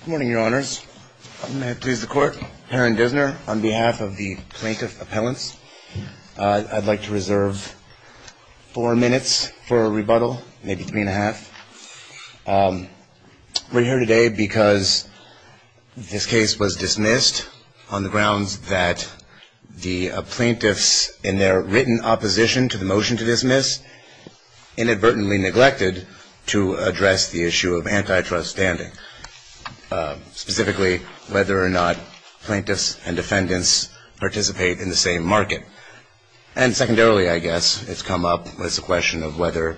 Good morning, your honors. I'm going to have to please the court. Aaron Dissner on behalf of the plaintiff appellants. I'd like to reserve four minutes for a rebuttal, maybe three and a half. We're here today because this case was dismissed on the grounds that the plaintiffs in their written opposition to the motion to dismiss inadvertently neglected to address the issue of antitrust standing. Specifically, whether or not plaintiffs and defendants participate in the same market. And secondarily, I guess, it's come up as a question of whether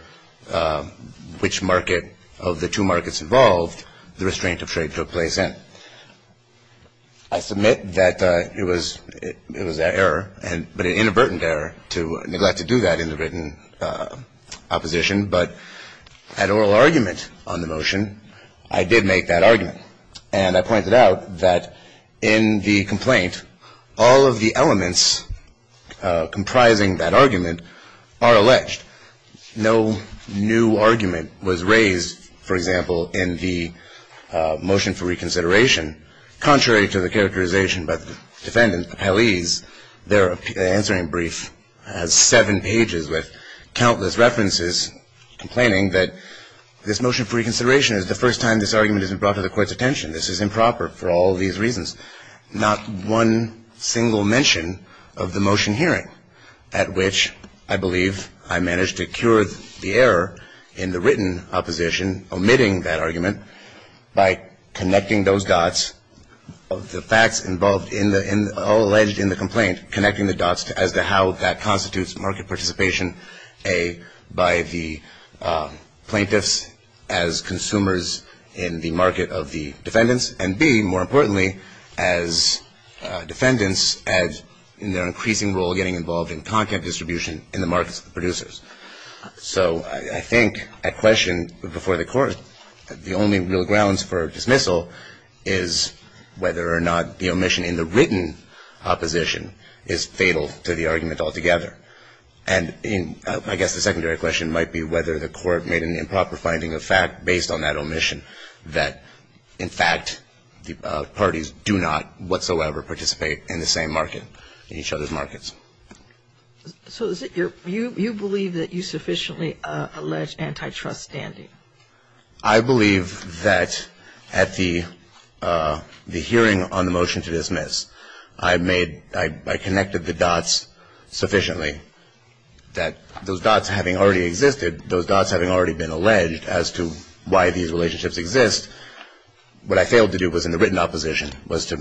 which market of the two markets involved the restraint of trade took place in. I submit that it was an error, but an inadvertent error to neglect to do that in the written opposition. But at oral argument on the motion, I did make that argument. And I pointed out that in the complaint, all of the elements comprising that argument are alleged. No new argument was raised, for example, in the motion for reconsideration. Contrary to the characterization by the defendants, the appellees, their answering brief has seven pages with countless references complaining that this motion for reconsideration is the first time this argument has been brought to the court's attention. This is improper for all of these reasons. Not one single mention of the motion hearing at which I believe I managed to cure the error in the written opposition omitting that argument by connecting those dots of the facts involved in the alleged in the complaint, connecting the dots as to how that constitutes market participation, A, by the plaintiffs as consumers in the market of the defendant. And B, more importantly, as defendants in their increasing role getting involved in content distribution in the markets of the producers. So I think a question before the court, the only real grounds for dismissal is whether or not the omission in the written opposition is fatal to the argument altogether. And I guess the secondary question might be whether the court made an improper finding of fact based on that omission that, in fact, the parties do not whatsoever participate in the same market, in each other's markets. So you believe that you sufficiently allege antitrust standing? I believe that at the hearing on the motion to dismiss, I made, I connected the dots sufficiently that those dots having already existed, those dots having already been alleged as to why these relationships exist, what I failed to do was in the written opposition was to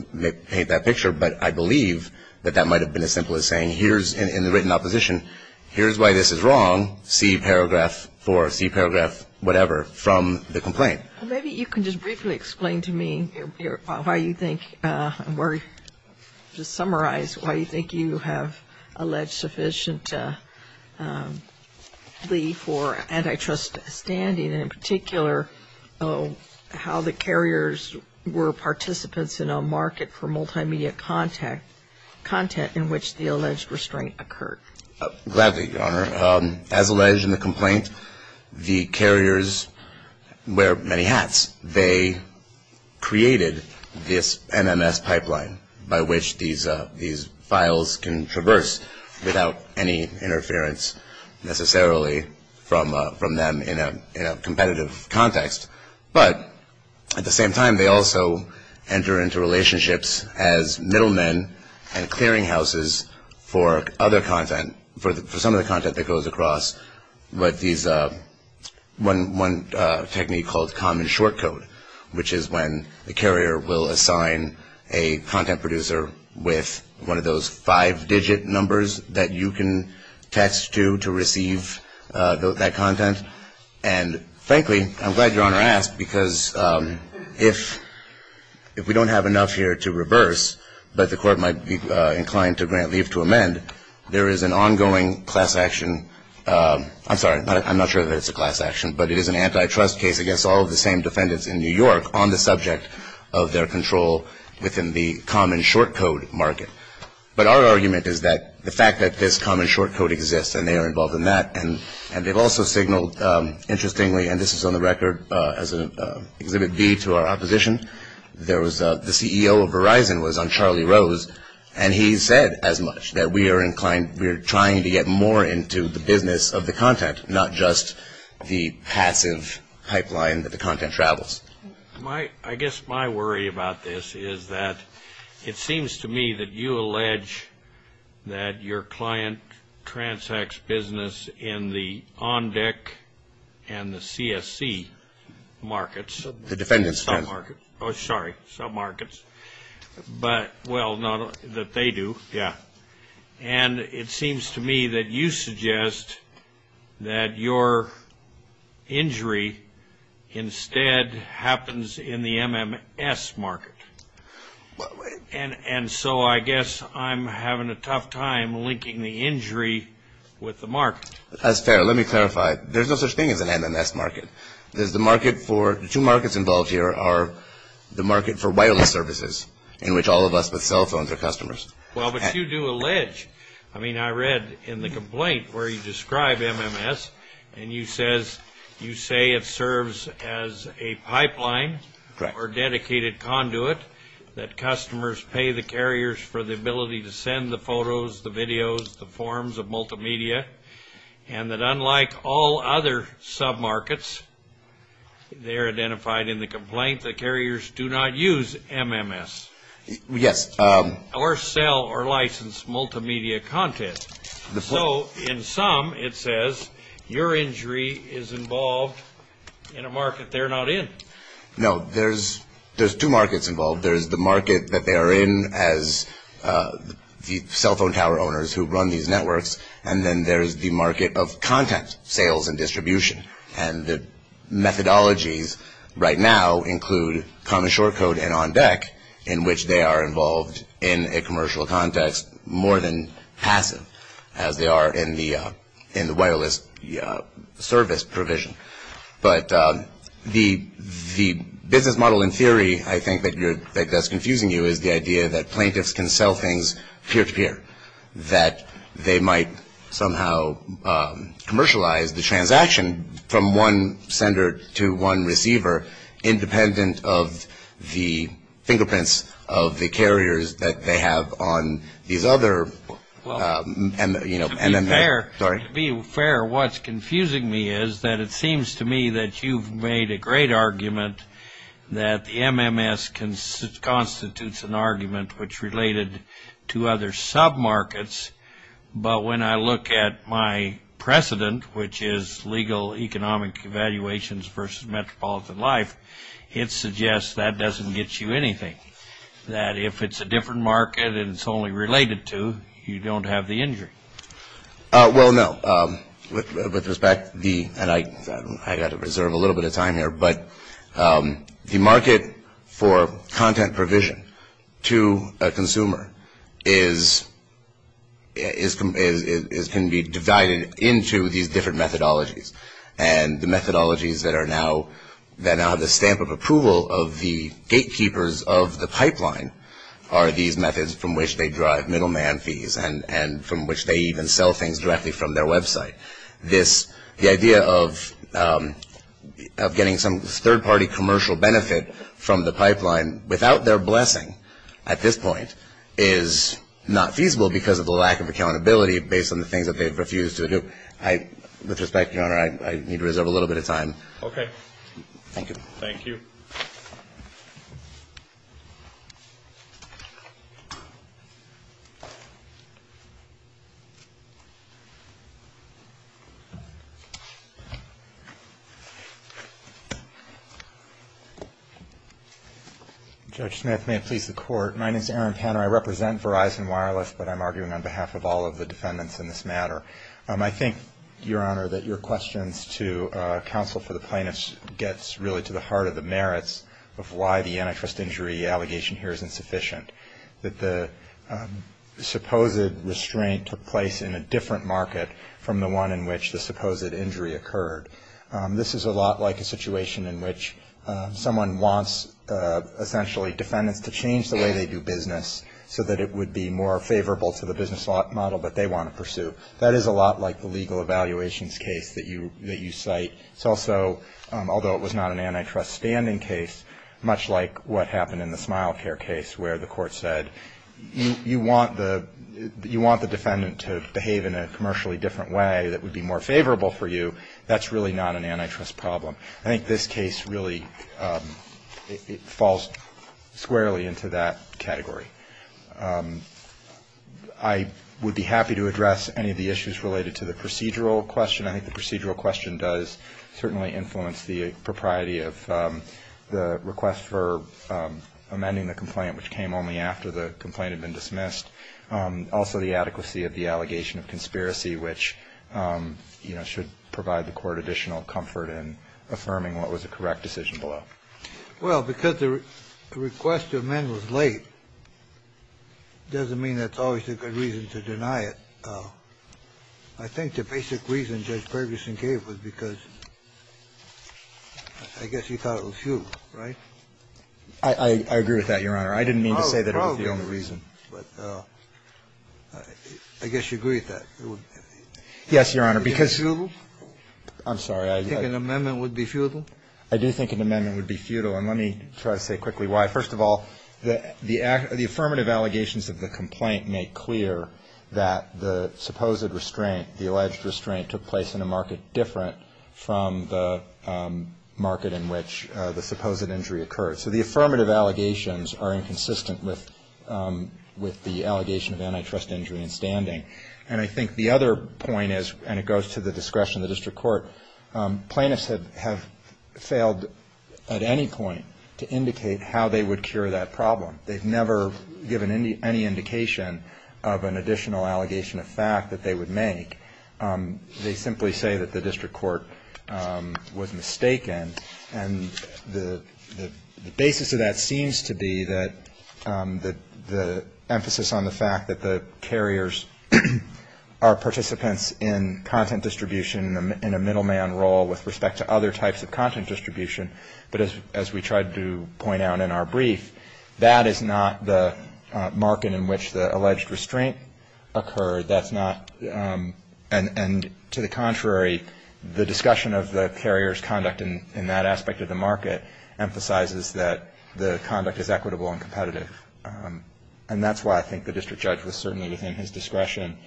paint that picture. But I believe that that might have been as simple as saying here's, in the written opposition, here's why this is wrong, see paragraph four, see paragraph whatever from the complaint. Well, maybe you can just briefly explain to me why you think, just summarize why you think you have alleged sufficiently for antitrust standing, and in particular, how the carriers were participants in a market for multimedia content in which the alleged restraint occurred. Gladly, Your Honor. As alleged in the complaint, the carriers wear many hats. They created this MMS pipeline by which these files can traverse without any interference necessarily from them in a competitive context. But at the same time, they also enter into relationships as middlemen and clearinghouses for other content, for some of the content that goes across what these, one technique called common short code, which is when the carrier will assign a content producer with one of those five-digit numbers that you can text to to receive that content. And frankly, I'm glad Your Honor asked, because if we don't have enough here to reverse, but the Court might be inclined to grant leave to amend, there is an ongoing class action. I'm sorry. I'm not sure that it's a class action, but it is an antitrust case against all of the same defendants in New York on the subject of their control within the common short code market. But our argument is that the fact that this common short code exists, and they are involved in that, and they've also signaled, interestingly, and this is on the record as an exhibit B to our opposition, there was the CEO of Verizon was on Charlie Rose, and he said as much, that we are inclined, we are trying to get more into the business of the content, not just the passive pipeline that the content travels. I guess my worry about this is that it seems to me that you allege that your client transacts business in the ONDEC and the CSC markets. The defendant's family. Oh, sorry, submarkets. But, well, not that they do. Yeah. And it seems to me that you suggest that your injury instead happens in the MMS market. And so I guess I'm having a tough time linking the injury with the market. That's fair. Let me clarify. There's no such thing as an MMS market. The two markets involved here are the market for wireless services in which all of us with cell phones are customers. Well, but you do allege. I mean, I read in the complaint where you describe MMS, and you say it serves as a pipeline. Correct. Or dedicated conduit that customers pay the carriers for the ability to send the photos, the videos, the forms of multimedia, and that unlike all other submarkets there identified in the complaint, the carriers do not use MMS. Yes. Or sell or license multimedia content. So in sum, it says your injury is involved in a market they're not in. No, there's two markets involved. There's the market that they are in as the cell phone tower owners who run these networks, and then there's the market of content sales and distribution. And the methodologies right now include common short code and on deck in which they are involved in a commercial context more than passive as they are in the wireless service provision. But the business model in theory I think that's confusing you is the idea that plaintiffs can sell things peer-to-peer, that they might somehow commercialize the transaction from one sender to one receiver, independent of the fingerprints of the carriers that they have on these other MMS. To be fair, what's confusing me is that it seems to me that you've made a great argument that the MMS constitutes an argument which related to other sub-markets, but when I look at my precedent, which is legal economic evaluations versus metropolitan life, it suggests that doesn't get you anything. That if it's a different market and it's only related to, you don't have the injury. Well, no. With respect, and I've got to reserve a little bit of time here, but the market for content provision to a consumer can be divided into these different methodologies. And the methodologies that now have the stamp of approval of the gatekeepers of the pipeline are these methods from which they drive middleman fees and from which they even sell things directly from their website. The idea of getting some third-party commercial benefit from the pipeline without their blessing at this point is not feasible because of the lack of accountability based on the things that they've refused to do. With respect, Your Honor, I need to reserve a little bit of time. Okay. Thank you. Thank you. Judge Smith, may it please the Court. My name is Aaron Panner. I represent Verizon Wireless, but I'm arguing on behalf of all of the defendants in this matter. I think, Your Honor, that your questions to counsel for the plaintiffs gets really to the heart of the merits of why the antitrust injury allegation here is insufficient, that the supposed restraint took place in a different market from the one in which the supposed injury occurred. This is a lot like a situation in which someone wants essentially defendants to change the way they do business so that it would be more favorable to the business model that they want to pursue. That is a lot like the legal evaluations case that you cite. It's also, although it was not an antitrust standing case, much like what happened in the SmileCare case where the court said you want the defendant to behave in a commercially different way that would be more favorable for you. That's really not an antitrust problem. I think this case really falls squarely into that category. I would be happy to address any of the issues related to the procedural question. I think the procedural question does certainly influence the propriety of the request for amending the complaint, which came only after the complaint had been dismissed. Also, the adequacy of the allegation of conspiracy, which should provide the court additional comfort in affirming what was a correct decision below. Well, because the request to amend was late, it doesn't mean that's always a good reason to deny it. I think the basic reason Judge Ferguson gave was because I guess he thought it was futile, right? I agree with that, Your Honor. I didn't mean to say that it was the only reason. But I guess you agree with that. Yes, Your Honor, because you do. I'm sorry. You think an amendment would be futile? I do think an amendment would be futile. And let me try to say quickly why. First of all, the affirmative allegations of the complaint make clear that the supposed restraint, the alleged restraint, took place in a market different from the market in which the supposed injury occurred. So the affirmative allegations are inconsistent with the allegation of antitrust injury in standing. And I think the other point is, and it goes to the discretion of the district court, plaintiffs have failed at any point to indicate how they would cure that problem. They've never given any indication of an additional allegation of fact that they would make. They simply say that the district court was mistaken. And the basis of that seems to be that the emphasis on the fact that the carriers are participants in content distribution in a middleman role with respect to other types of content distribution, but as we tried to point out in our brief, that is not the market in which the alleged restraint occurred. That's not, and to the contrary, the discussion of the carrier's conduct in that aspect of the market emphasizes that the conduct is equitable and competitive. And that's why I think the district judge was certainly within his discretion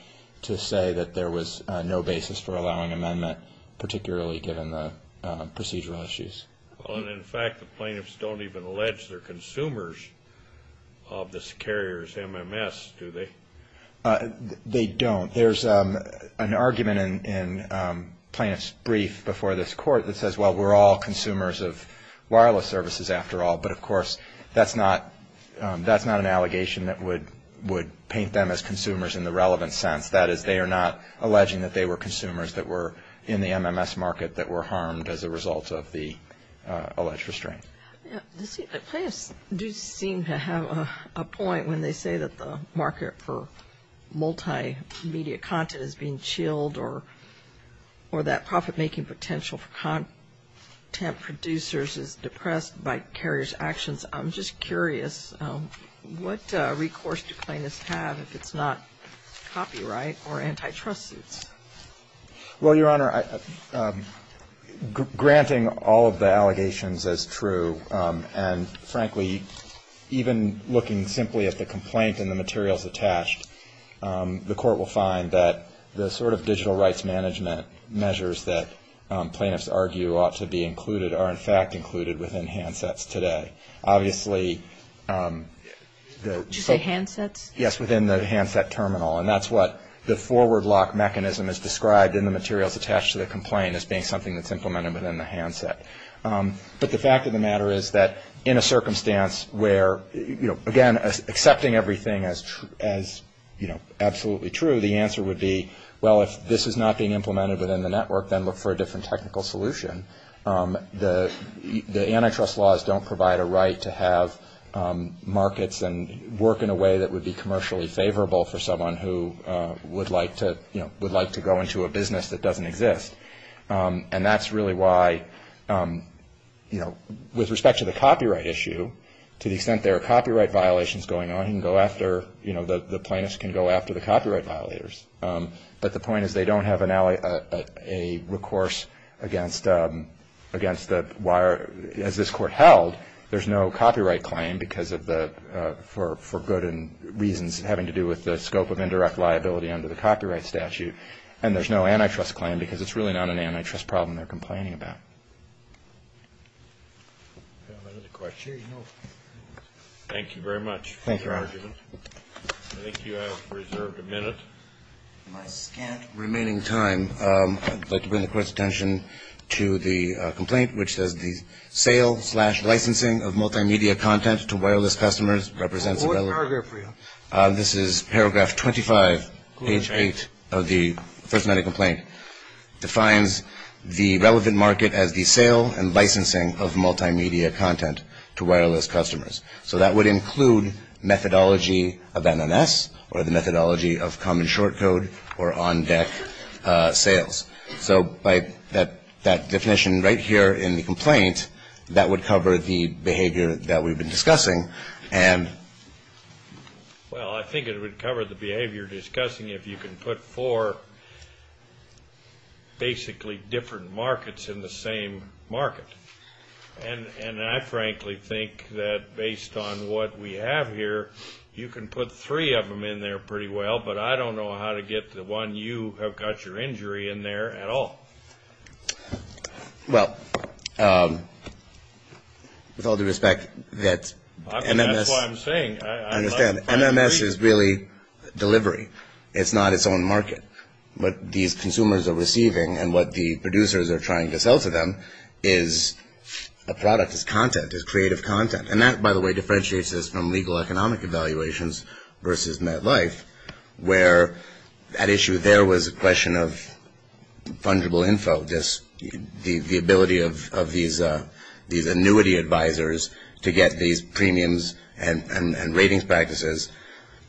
to say that there was no basis for allowing amendment, particularly given the procedural issues. In fact, the plaintiffs don't even allege they're consumers of this carrier's MMS, do they? They don't. There's an argument in plaintiff's brief before this court that says, well, we're all consumers of wireless services after all. But, of course, that's not an allegation that would paint them as consumers in the relevant sense. That is, they are not alleging that they were consumers that were in the MMS market that were harmed as a result of the alleged restraint. Plaintiffs do seem to have a point when they say that the market for multimedia content is being chilled or that profit-making potential for content producers is depressed by carriers' actions. I'm just curious, what recourse do plaintiffs have if it's not copyright or antitrust suits? Well, Your Honor, granting all of the allegations as true and, frankly, even looking simply at the complaint and the materials attached, the court will find that the sort of digital rights management measures that plaintiffs argue ought to be included are, in fact, included within handsets today. Obviously, the so- Did you say handsets? Yes, within the handset terminal. And that's what the forward lock mechanism is described in the materials attached to the complaint as being something that's implemented within the handset. But the fact of the matter is that in a circumstance where, you know, again, accepting everything as, you know, absolutely true, the answer would be, well, if this is not being implemented within the network, then look for a different technical solution. The antitrust laws don't provide a right to have markets and work in a way that would be commercially favorable for someone who would like to, you know, would like to go into a business that doesn't exist. And that's really why, you know, with respect to the copyright issue, to the extent there are copyright violations going on, you can go after, you know, the plaintiffs can go after the copyright violators. But the point is they don't have a recourse against the wire. As this Court held, there's no copyright claim because of the – for good and reasons having to do with the scope of indirect liability under the copyright statute. And there's no antitrust claim because it's really not an antitrust problem they're complaining about. Thank you very much for your argument. Thank you, Robert. I think you have reserved a minute. In my scant remaining time, I'd like to bring the Court's attention to the complaint which says the sale slash licensing of multimedia content to wireless customers represents a relevant – What paragraph are you on? This is paragraph 25, page 8 of the First Amendment complaint. It defines the relevant market as the sale and licensing of multimedia content to wireless customers. So that would include methodology of NMS or the methodology of common short code or on-deck sales. So by that definition right here in the complaint, that would cover the behavior that we've been discussing. And – Well, I think it would cover the behavior discussing if you can put four basically different markets in the same market. And I frankly think that based on what we have here, you can put three of them in there pretty well, but I don't know how to get the one you have got your injury in there at all. Well, with all due respect, that NMS – That's what I'm saying. I understand. NMS is really delivery. It's not its own market. What these consumers are receiving and what the producers are trying to sell to them is a product, is content, is creative content. And that, by the way, differentiates us from legal economic evaluations versus MetLife, where that issue there was a question of fungible info, the ability of these annuity advisors to get these premiums and ratings practices.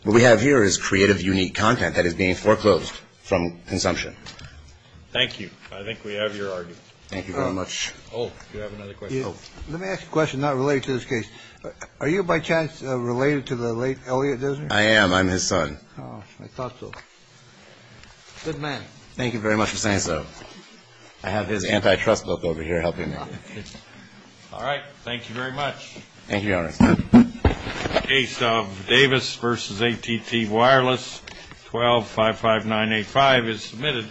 What we have here is creative, unique content that is being foreclosed from consumption. Thank you. I think we have your argument. Thank you very much. Oh, you have another question. Let me ask a question not related to this case. Are you by chance related to the late Elliot Dozier? I am. I'm his son. Oh, I thought so. Good man. Thank you very much for saying so. All right. Thank you very much. Thank you, Your Honor. The case of Davis v. ATT Wireless, 1255985 is submitted.